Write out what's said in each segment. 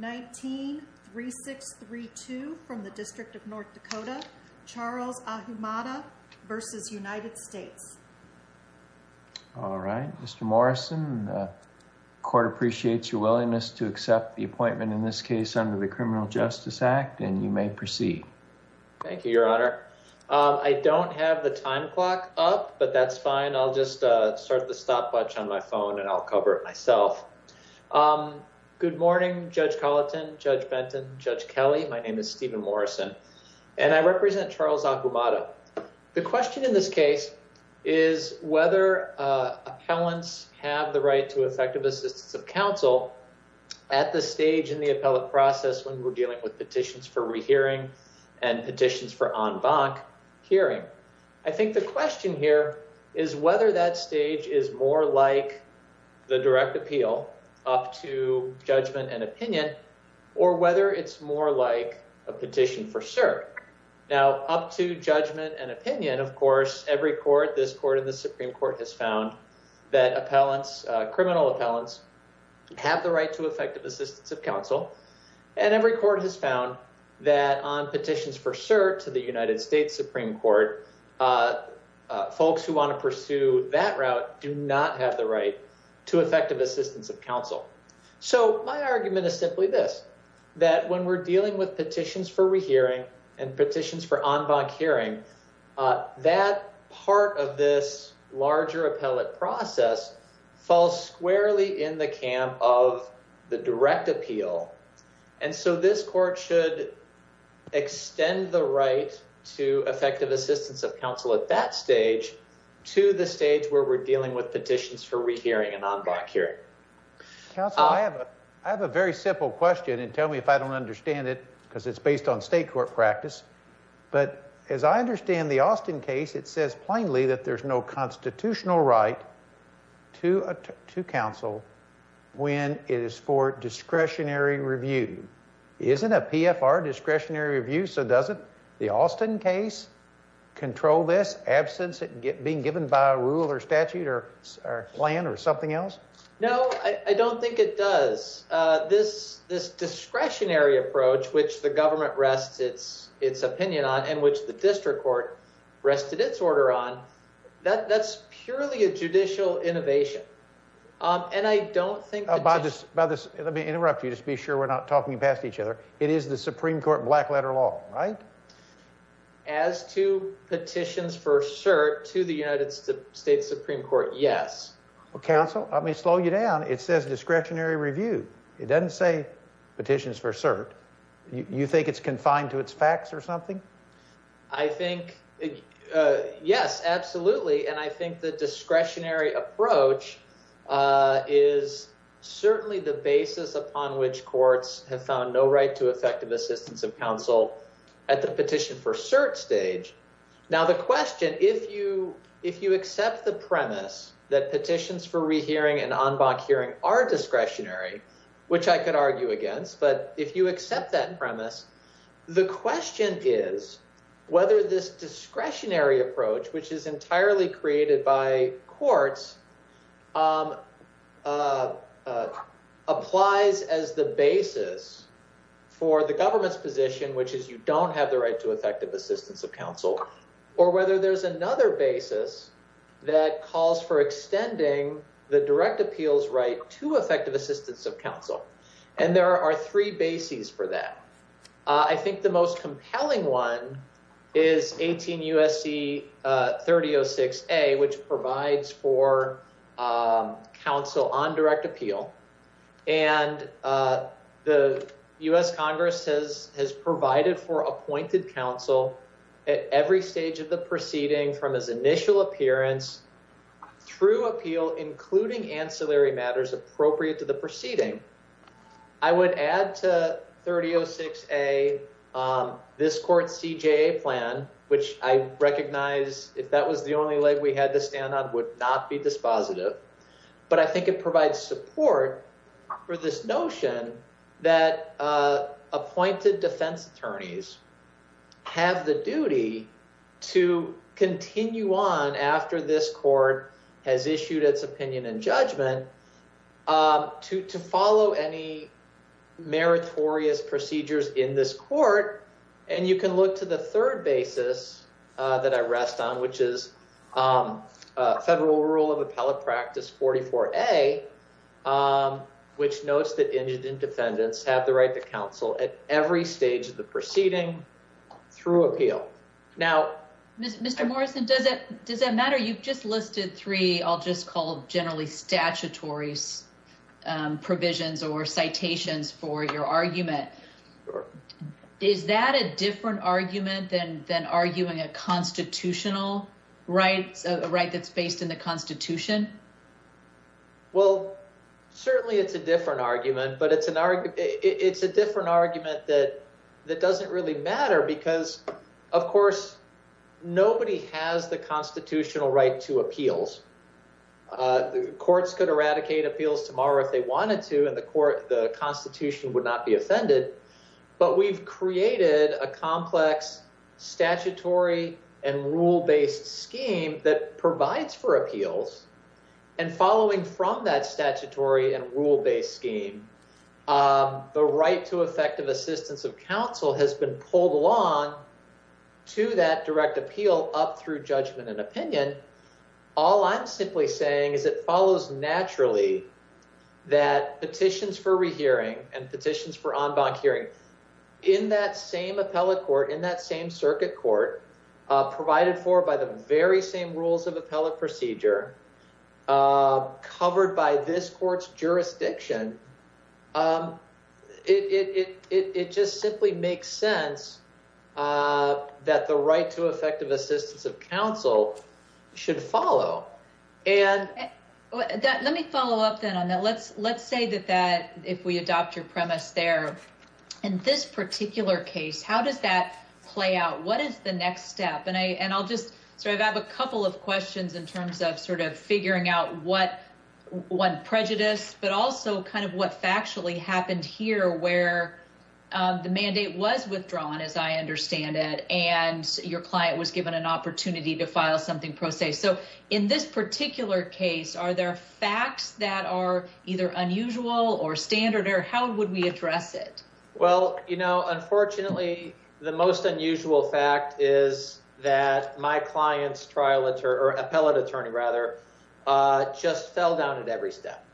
19-3632 from the District of North Dakota, Charles Ahumada v. United States. All right, Mr. Morrison, the court appreciates your willingness to accept the appointment in this case under the Criminal Justice Act and you may proceed. Thank you, Your Honor. I don't have the time clock up, but that's fine. I'll just start the stopwatch on my phone and I'll cover it myself. Good morning, Judge Colleton, Judge Benton, Judge Kelly. My name is Stephen Morrison and I represent Charles Ahumada. The question in this case is whether appellants have the right to effective assistance of counsel at this stage in the appellate process when we're dealing with petitions for rehearing and petitions for en banc hearing. I think the question here is whether that up to judgment and opinion or whether it's more like a petition for cert. Now, up to judgment and opinion, of course, every court, this court and the Supreme Court, has found that appellants, criminal appellants, have the right to effective assistance of counsel and every court has found that on petitions for cert to the United States Supreme Court, folks who want to pursue that route do not have the right to effective assistance of counsel. So my argument is simply this, that when we're dealing with petitions for rehearing and petitions for en banc hearing, that part of this larger appellate process falls squarely in the camp of the direct appeal and so this court should extend the right to counsel at that stage to the stage where we're dealing with petitions for rehearing and en banc hearing. Counsel, I have a very simple question and tell me if I don't understand it because it's based on state court practice, but as I understand the Austin case, it says plainly that there's no constitutional right to counsel when it is for discretionary review. Isn't a PFR discretionary review, so doesn't the Austin case control this absence of being given by a rule or statute or plan or something else? No, I don't think it does. This discretionary approach which the government rests its opinion on and which the district court rested its order on, that's purely a judicial innovation and I don't think... By this, let me interrupt you, be sure we're not talking past each other. It is the Supreme Court black letter law, right? As to petitions for cert to the United States Supreme Court, yes. Well, counsel, let me slow you down. It says discretionary review. It doesn't say petitions for cert. You think it's confined to its facts or something? I think, yes, absolutely, and I think the discretionary approach is certainly the basis upon which courts have found no right to effective assistance of counsel at the petition for cert stage. Now, the question, if you accept the premise that petitions for rehearing and en banc hearing are discretionary, which I could argue against, but if you accept that premise, the question is whether this discretionary approach, which is entirely created by courts, applies as the basis for the government's position, which is you don't have the right to effective assistance of counsel, or whether there's another basis that calls for extending the direct appeals right to effective assistance of counsel, and there are three bases for that. I think the most compelling one is 18 U.S.C. 3006A, which provides for counsel on direct appeal, and the U.S. Congress has provided for appointed counsel at every stage of the proceeding from his initial appearance through appeal, including ancillary matters appropriate to the proceeding. I would add to 3006A this court's CJA plan, which I recognize, if that was the only leg we had to stand on, would not be dispositive, but I think it provides support for this notion that appointed defense attorneys have the duty to continue on after this judgment to follow any meritorious procedures in this court, and you can look to the third basis that I rest on, which is a federal rule of appellate practice 44A, which notes that indigent defendants have the right to counsel at every stage of the proceeding through appeal. Now, Mr. Morrison, does that matter? You've just listed three I'll just call generally statutory provisions or citations for your argument. Is that a different argument than arguing a constitutional right that's based in the Constitution? Well, certainly it's a different argument, but it's a different argument that doesn't really matter because, of course, nobody has the constitutional right to appeals. The courts could eradicate appeals tomorrow if they wanted to, and the Constitution would not be offended, but we've created a complex statutory and rule-based scheme that provides for appeals, and following from that statutory and rule-based scheme, the right to effective assistance of counsel has been pulled along to that direct appeal up through judgment and opinion. All I'm simply saying is it follows naturally that petitions for rehearing and petitions for en banc hearing in that same appellate court, in that same circuit court, provided for by the very rules of appellate procedure, covered by this court's jurisdiction, it just simply makes sense that the right to effective assistance of counsel should follow. Let me follow up then on that. Let's say that if we adopt your premise there, in this particular case, how does that play out? What is the next step? And I'll just start out with a couple of questions in terms of sort of figuring out what prejudice, but also kind of what factually happened here where the mandate was withdrawn, as I understand it, and your client was given an opportunity to file something pro se. So in this particular case, are there facts that are either unusual or standard, or how would we address it? Well, you know, unfortunately, the most unusual fact is that my client's trial or appellate attorney rather, just fell down at every step.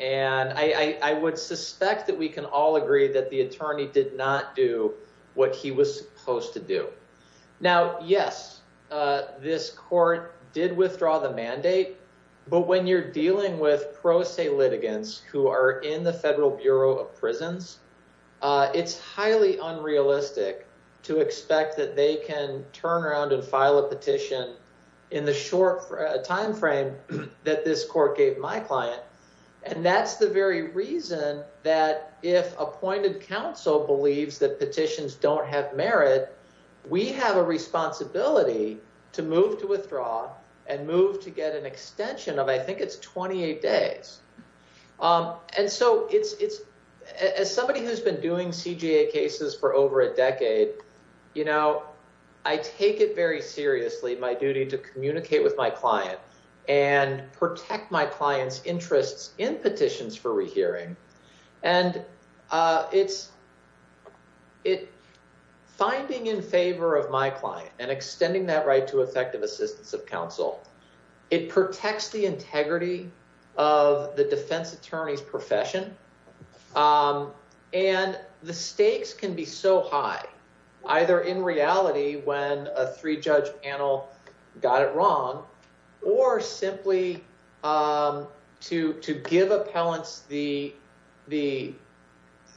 And I would suspect that we can all agree that the attorney did not do what he was supposed to do. Now, yes, this court did withdraw the mandate. But when you're dealing with pro se litigants who are in the Federal Bureau of Prisons, it's highly unrealistic to expect that they can turn around and file a petition in the short timeframe that this court gave my client. And that's the very reason that if appointed counsel believes that petitions don't have merit, we have a responsibility to move to withdraw and move to get an extension of, I think it's 28 days. And so as somebody who's been doing CJA cases for over a decade, you know, I take it very seriously, my duty to communicate with my client and protect my client's interests in petitions for rehearing. And finding in favor of my client and extending that right to effective assistance of counsel, it protects the integrity of the defense attorney's profession. And the stakes can be so high, either in reality when a three-judge panel got it wrong, or simply to give appellants the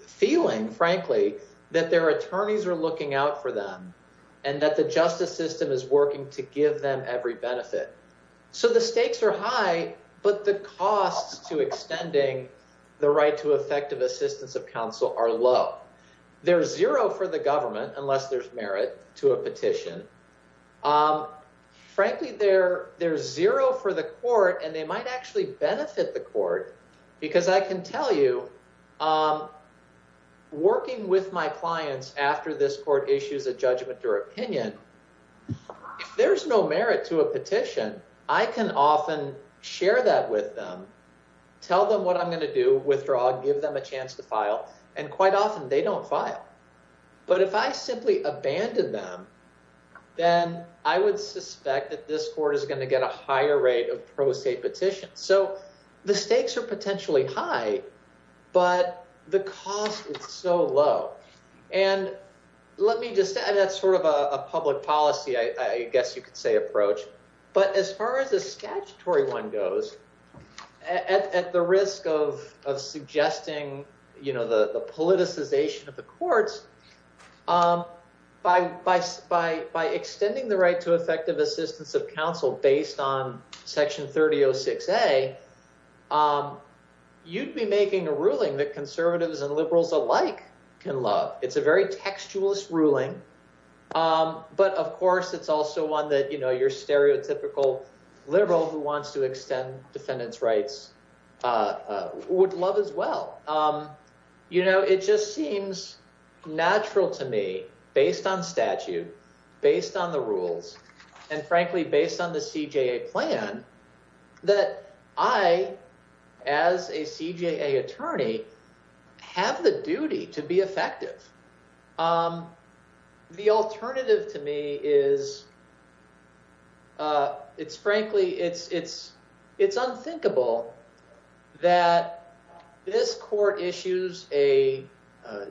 feeling, frankly, that their attorneys are looking out for them and that the justice system is working to give them every benefit. So the stakes are high, but the costs to extending the right to effective assistance of counsel are low. They're zero for the government, unless there's merit to a petition. Frankly, they're zero for the court, and they might actually benefit the court, because I can tell you, working with my clients after this court issues a judgment or opinion, if there's no merit to a petition, I can often share that with them, tell them what I'm going to do, withdraw, give them a chance to file, and quite often they don't file. But if I simply abandon them, then I would suspect that this court is going to get a higher rate of pro se petitions. So the stakes are potentially high, but the cost is so low. And let me just add, that's sort of a public policy, I guess you could say, approach. But as far as the statutory one goes, at the risk of suggesting the politicization of the courts, by extending the right to effective assistance of counsel based on Section 3006A, you'd be making a ruling that conservatives and but of course, it's also one that your stereotypical liberal who wants to extend defendant's rights would love as well. It just seems natural to me, based on statute, based on the rules, and frankly, based on the CJA plan, that I, as a CJA attorney, have the duty to be effective. The alternative to me is, it's frankly, it's unthinkable that this court issues a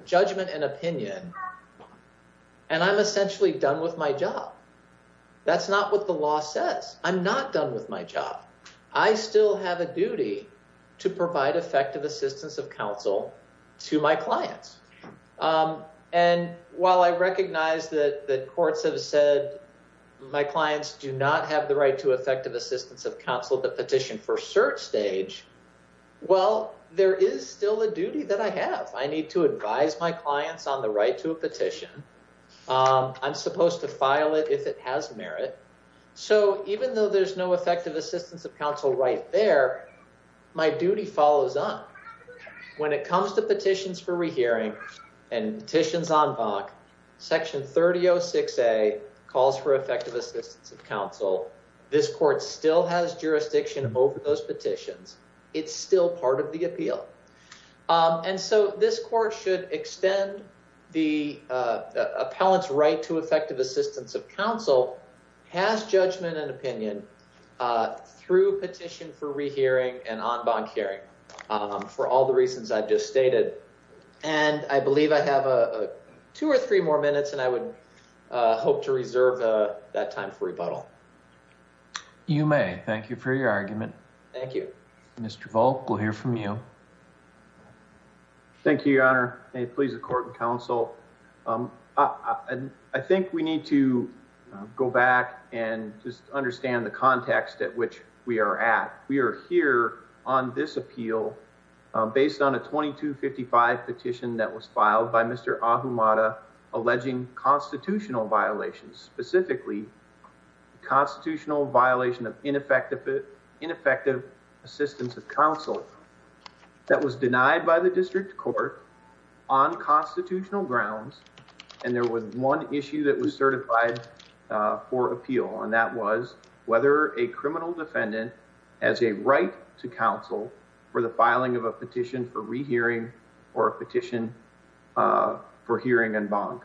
judgment and opinion, and I'm essentially done with my job. That's not what the law says. I'm not done with my job. I still have a duty to provide effective assistance of counsel to my clients. And while I recognize that the courts have said my clients do not have the right to effective assistance of counsel at the petition for cert stage, well, there is still a duty that I have. I need to advise my clients on the right to a petition. I'm supposed to file it if it has merit. So even though there's no effective assistance of counsel right there, my duty follows on. When it comes to petitions for rehearing and petitions en banc, section 3006a calls for effective assistance of counsel. This court still has jurisdiction over those petitions. It's still part of the appeal. And so this court should extend the past judgment and opinion through petition for rehearing and en banc hearing, for all the reasons I've just stated. And I believe I have two or three more minutes, and I would hope to reserve that time for rebuttal. You may. Thank you for your argument. Thank you. Mr. Volk, we'll hear from you. Thank you, Your Honor. May it please the court and counsel. I think we need to go back and just understand the context at which we are at. We are here on this appeal based on a 2255 petition that was filed by Mr. Ahumada alleging constitutional violations, specifically constitutional violation of ineffective assistance of counsel. That was denied by the district court on constitutional grounds. And there was one issue that was certified for appeal, and that was whether a criminal defendant has a right to counsel for the filing of a petition for rehearing or a petition for hearing en banc.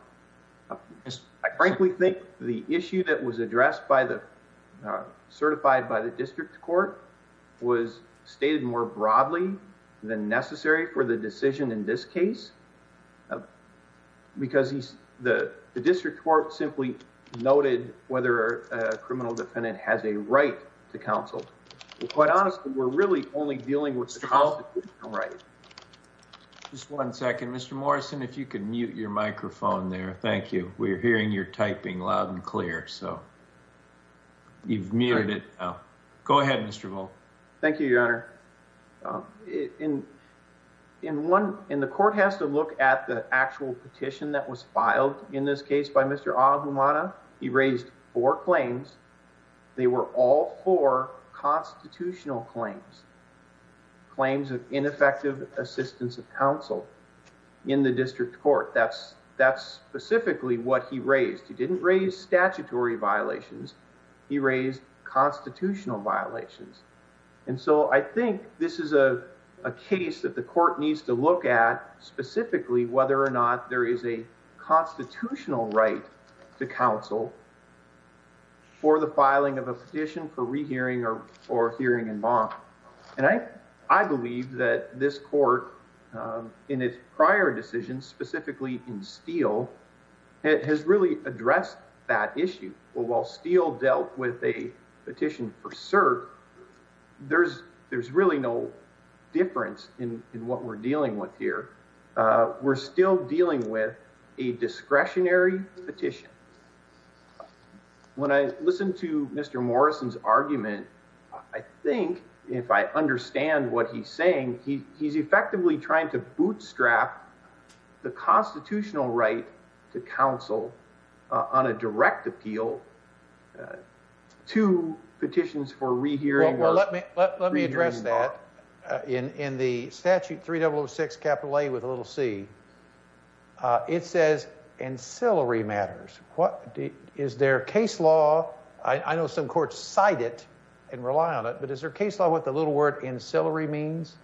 I frankly think the issue that was addressed by the certified by the district court was stated more broadly than necessary for the decision in this case, because the district court simply noted whether a criminal defendant has a right to counsel. Quite honestly, we're really only dealing with the constitutional right. Just one second. Mr. Morrison, if you could mute your microphone there. Thank you. We're hearing your typing loud and clear, so you've muted it now. Go ahead, Mr. Volk. Thank you, Your Honor. The court has to look at the actual petition that was filed in this case by Mr. Ahumada. He raised four claims. They were all four constitutional claims, claims of statutory violations. He raised constitutional violations. And so I think this is a case that the court needs to look at specifically whether or not there is a constitutional right to counsel for the filing of a petition for rehearing or hearing en banc. And I believe that this court, in its prior decisions, specifically in Steele, has really addressed that issue. But while Steele dealt with a petition for cert, there's really no difference in what we're dealing with here. We're still dealing with a discretionary petition. When I listened to Mr. Morrison's argument, I think, if I understand what he's saying, he's effectively trying to bootstrap the constitutional right to counsel on a direct appeal to petitions for rehearing or hearing en banc. Well, let me address that. In the statute 3006 capital A with a little c, it says ancillary matters. Is there a case law? I know some courts cite it and rely on it, but is there a case law with the little word constitutional rights?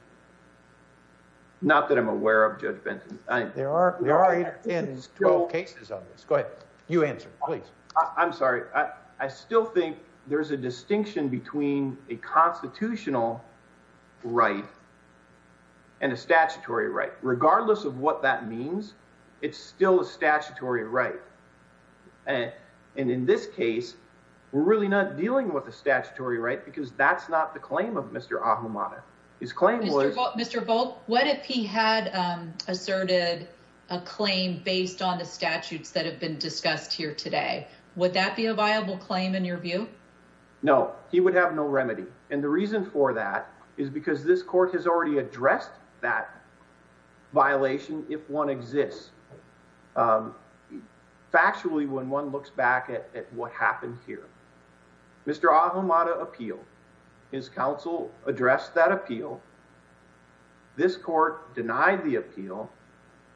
Not that I'm aware of, Judge Benson. We are in 12 cases of this. Go ahead. You answer, please. I'm sorry. I still think there's a distinction between a constitutional right and a statutory right. Regardless of what that means, it's still a statutory right. And in this case, we're really not dealing with a statutory right because that's not the claim of Mr. Ahamada. Mr. Volk, what if he had asserted a claim based on the statutes that have been discussed here today? Would that be a viable claim in your view? No, he would have no remedy. And the reason for that is because this court has already addressed that violation if one exists. Factually, when one looks back at what happened here, Mr. Ahamada appealed. His counsel addressed that appeal. This court denied the appeal,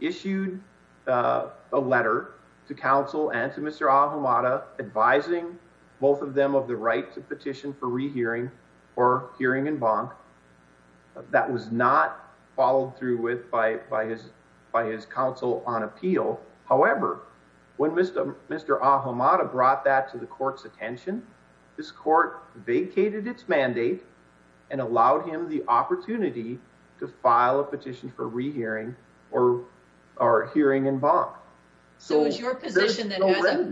issued a letter to counsel and to Mr. Ahamada advising both of them of the right to petition for rehearing or hearing in bonk. That was not followed through with by his counsel on appeal. However, when Mr. Ahamada brought that to the court's attention, this court vacated its mandate and allowed him the opportunity to file a petition for rehearing or hearing in bonk. So is your position that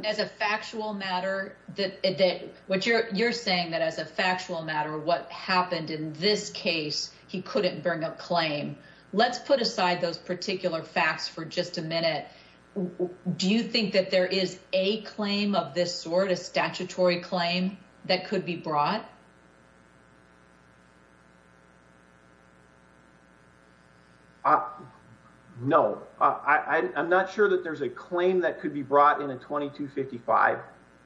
as a factual matter, what you're saying that as a factual matter, what happened in this case, he couldn't bring a claim. Let's put aside those particular facts for just a minute. Do you think that there is a claim of this sort of statutory claim that could be brought? No, I'm not sure that there's a claim that could be brought in a 2255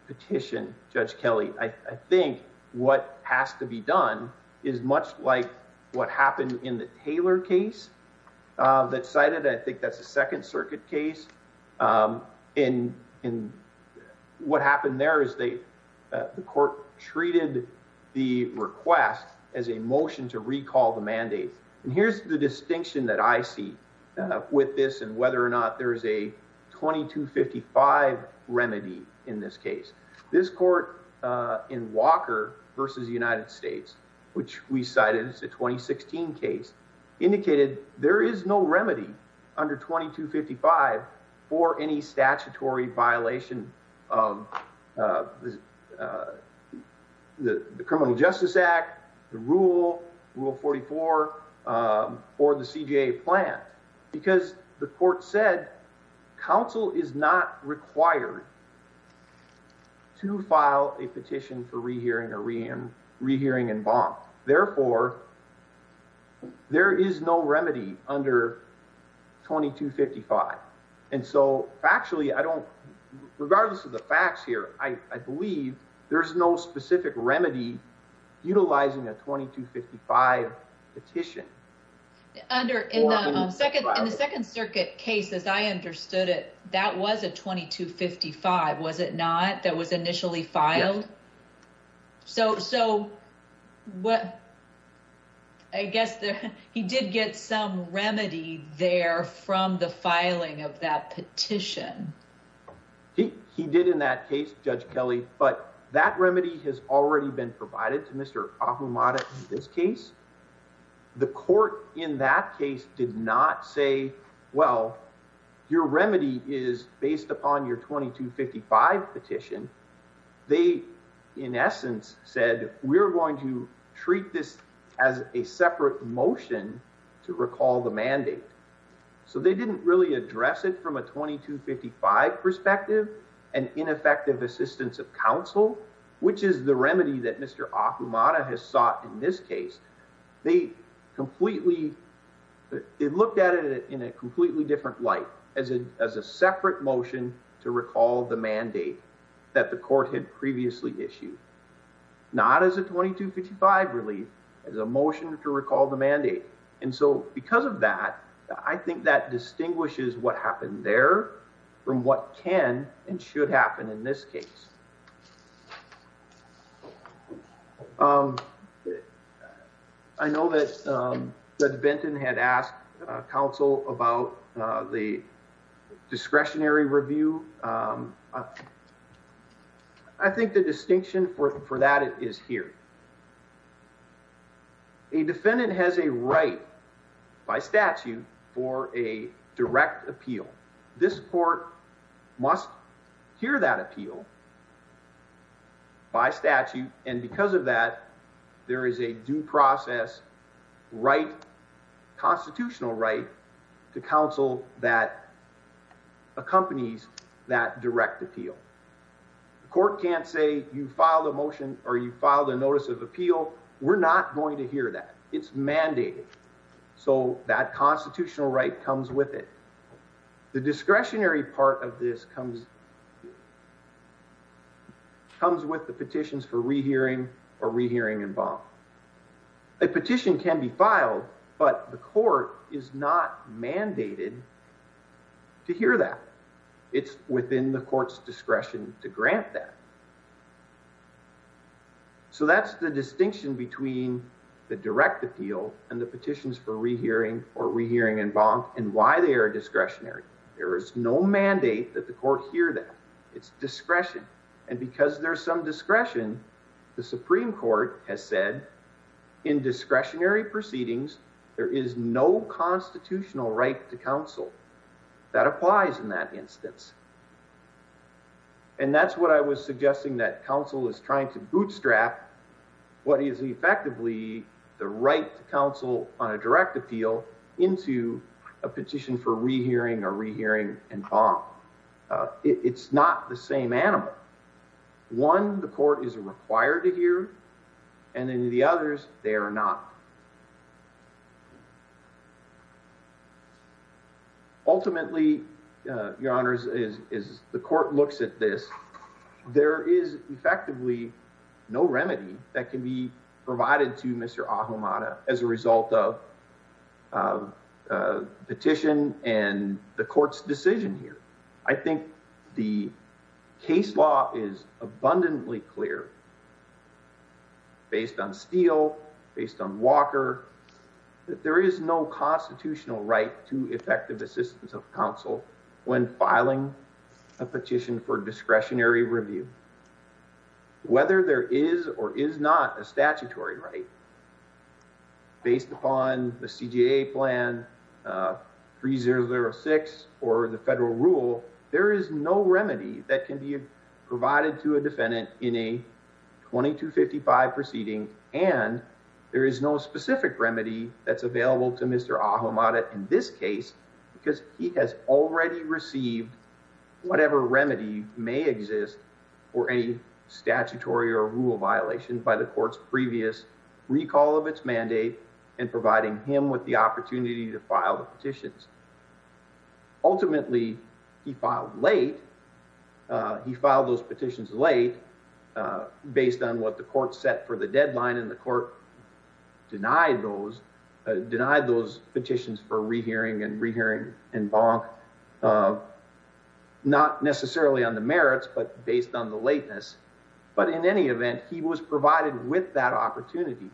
petition, Judge Kelly. I think what has to be done is much like what happened in the Taylor case that cited, I think that's a second circuit case. And what happened there is the court treated the request as a motion to recall the mandate. And here's the distinction that I see with this and whether or not there is a 2255 remedy in this case. This court in Walker versus the United States, which we cited as a 2016 case, indicated there is no remedy under 2255 for any statutory violation of the Criminal Justice Act, the rule, rule 44, or the CJA plan, because the court said counsel is not required to file a petition for rehearing or re-hearing and bond. Therefore, there is no remedy under 2255. And so factually, I don't, regardless of the facts here, I believe there's no specific remedy utilizing a 2255 petition. Under, in the second, in the second circuit case, as I understood it, that was a 2255, was it not? That was initially filed. So, so what, I guess he did get some remedy there from the filing of that petition. He, he did in that case, Judge Kelly, but that remedy has already been provided to Mr. Ahumada in this case. The court in that case did not say, well, your remedy is based upon your 2255 petition. They in essence said, we're going to treat this as a separate motion to recall the mandate. So they didn't really address it from a 2255 perspective and ineffective assistance of counsel, which is the remedy that Mr. Ahumada has sought in this case. They completely, they looked at it in a completely different light, as a separate motion to recall the mandate that the court had previously issued. Not as a 2255 relief, as a motion to recall the mandate. And so because of that, I think that distinguishes what happened there from what can and should happen in this case. I know that Judge Benton had asked counsel about the discretionary review. I think the distinction for that is here. A defendant has a right by statute for a direct appeal. This court must hear that appeal by statute. And because of that, there is a due process right, constitutional right to counsel that accompanies that direct appeal. The court can't say you filed a motion or you we're not going to hear that. It's mandated. So that constitutional right comes with it. The discretionary part of this comes with the petitions for rehearing or rehearing involved. A petition can be filed, but the court is not mandated to hear that. It's within the the direct appeal and the petitions for rehearing or rehearing involved and why they are discretionary. There is no mandate that the court hear that. It's discretion. And because there's some discretion, the Supreme Court has said in discretionary proceedings, there is no constitutional right to counsel that applies in that instance. And that's what I was suggesting that counsel is trying to bootstrap what is effectively the right to counsel on a direct appeal into a petition for rehearing or rehearing involved. It's not the same animal. One, the court is required to hear. And then the others, they are not. Ultimately, your honors, is the court looks at this. There is effectively no remedy that can be provided to Mr. Ahamada as a result of petition and the court's decision here. I think the there is no constitutional right to effective assistance of counsel when filing a petition for discretionary review. Whether there is or is not a statutory right based upon the CJA plan 3006 or the federal rule, there is no remedy that can be provided to a defendant in a proceeding and there is no specific remedy that's available to Mr. Ahamada in this case because he has already received whatever remedy may exist for any statutory or rule violation by the court's previous recall of its mandate and providing him with the opportunity to file petitions. Ultimately, he filed late. He filed those petitions late based on what the court set for the deadline and the court denied those, denied those petitions for rehearing and rehearing involved. Not necessarily on the merits, but based on the lateness. But in any event, he was provided with that opportunity.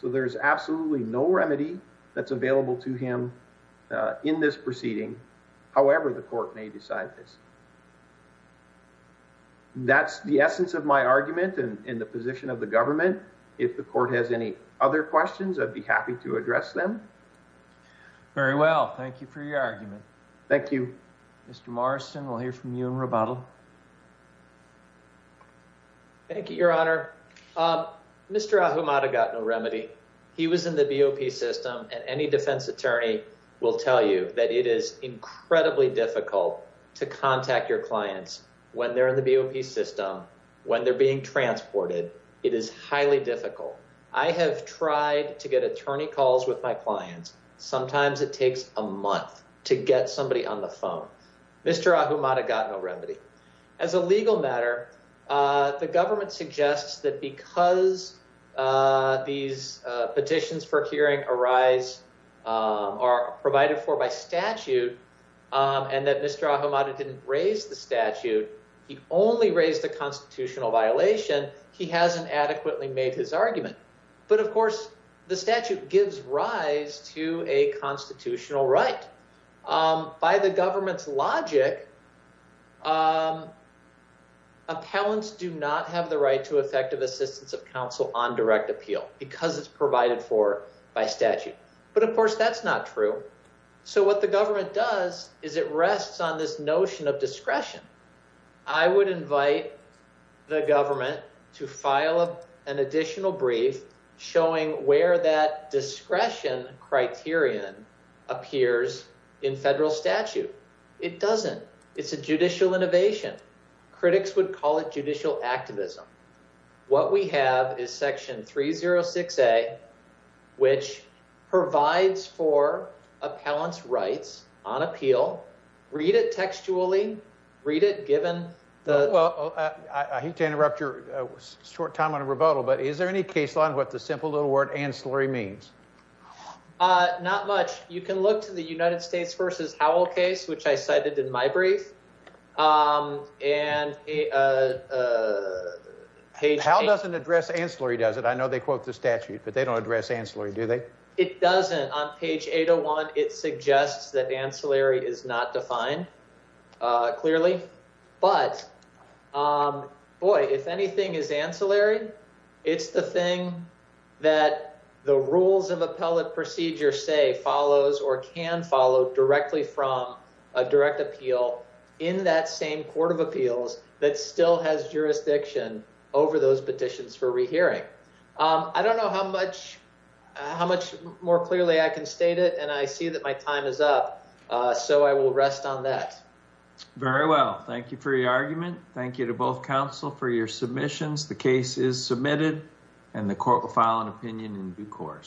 So there is absolutely no remedy that's available to him in this proceeding. However, the court may decide this. That's the essence of my argument and in the position of the government. If the court has any other questions, I'd be happy to address them. Very well. Thank you for your argument. Thank you, Mr. Morrison. We'll hear from you in rebuttal. Thank you, Your Honor. Mr. Ahamada got no remedy. He was in the BOP system and any defense attorney will tell you that it is incredibly difficult to contact your clients when they're in the BOP system, when they're being transported. It is highly difficult. I have tried to get attorney calls with my clients. Sometimes it takes a month to get somebody on the phone. Mr. Ahamada got no remedy. As a legal matter, the government suggests that because these petitions for hearing arise are provided for by statute and that Mr. Ahamada didn't raise the statute, he only raised the constitutional violation, he hasn't adequately made his argument. But of course, the statute gives rise to a constitutional right. By the government's logic, appellants do not have the right to effective assistance of counsel on direct appeal because it's provided for by statute. But of course, that's not true. So what the government does is it rests on this notion of discretion. I would invite the government to file an additional brief showing where that discretion criterion appears in federal statute. It doesn't. It's a judicial innovation. Critics would call it judicial activism. What we have is section 306A, which provides for appellants' rights on appeal. Read it textually. Read it given the... Well, I hate to interrupt your short time on a rebuttal, but is there any case law on what the simple little word ancillary means? Not much. You can look to the United States versus Howell case, which I cited in my brief. Howell doesn't address ancillary, does it? I know they quote the statute, but they don't address ancillary, do they? It doesn't. On page 801, it suggests that ancillary is not defined clearly. But boy, if anything is ancillary, it's the thing that the rules of appellate procedure say follows or can follow directly from a direct appeal in that same court of appeals that still has jurisdiction over those petitions for rehearing. I don't know how much more clearly I can state it, and I see that my time is up, so I will rest on that. Very well. Thank you for your argument. Thank you to both counsel for your submissions. The case is submitted, and the court will file an opinion in due course.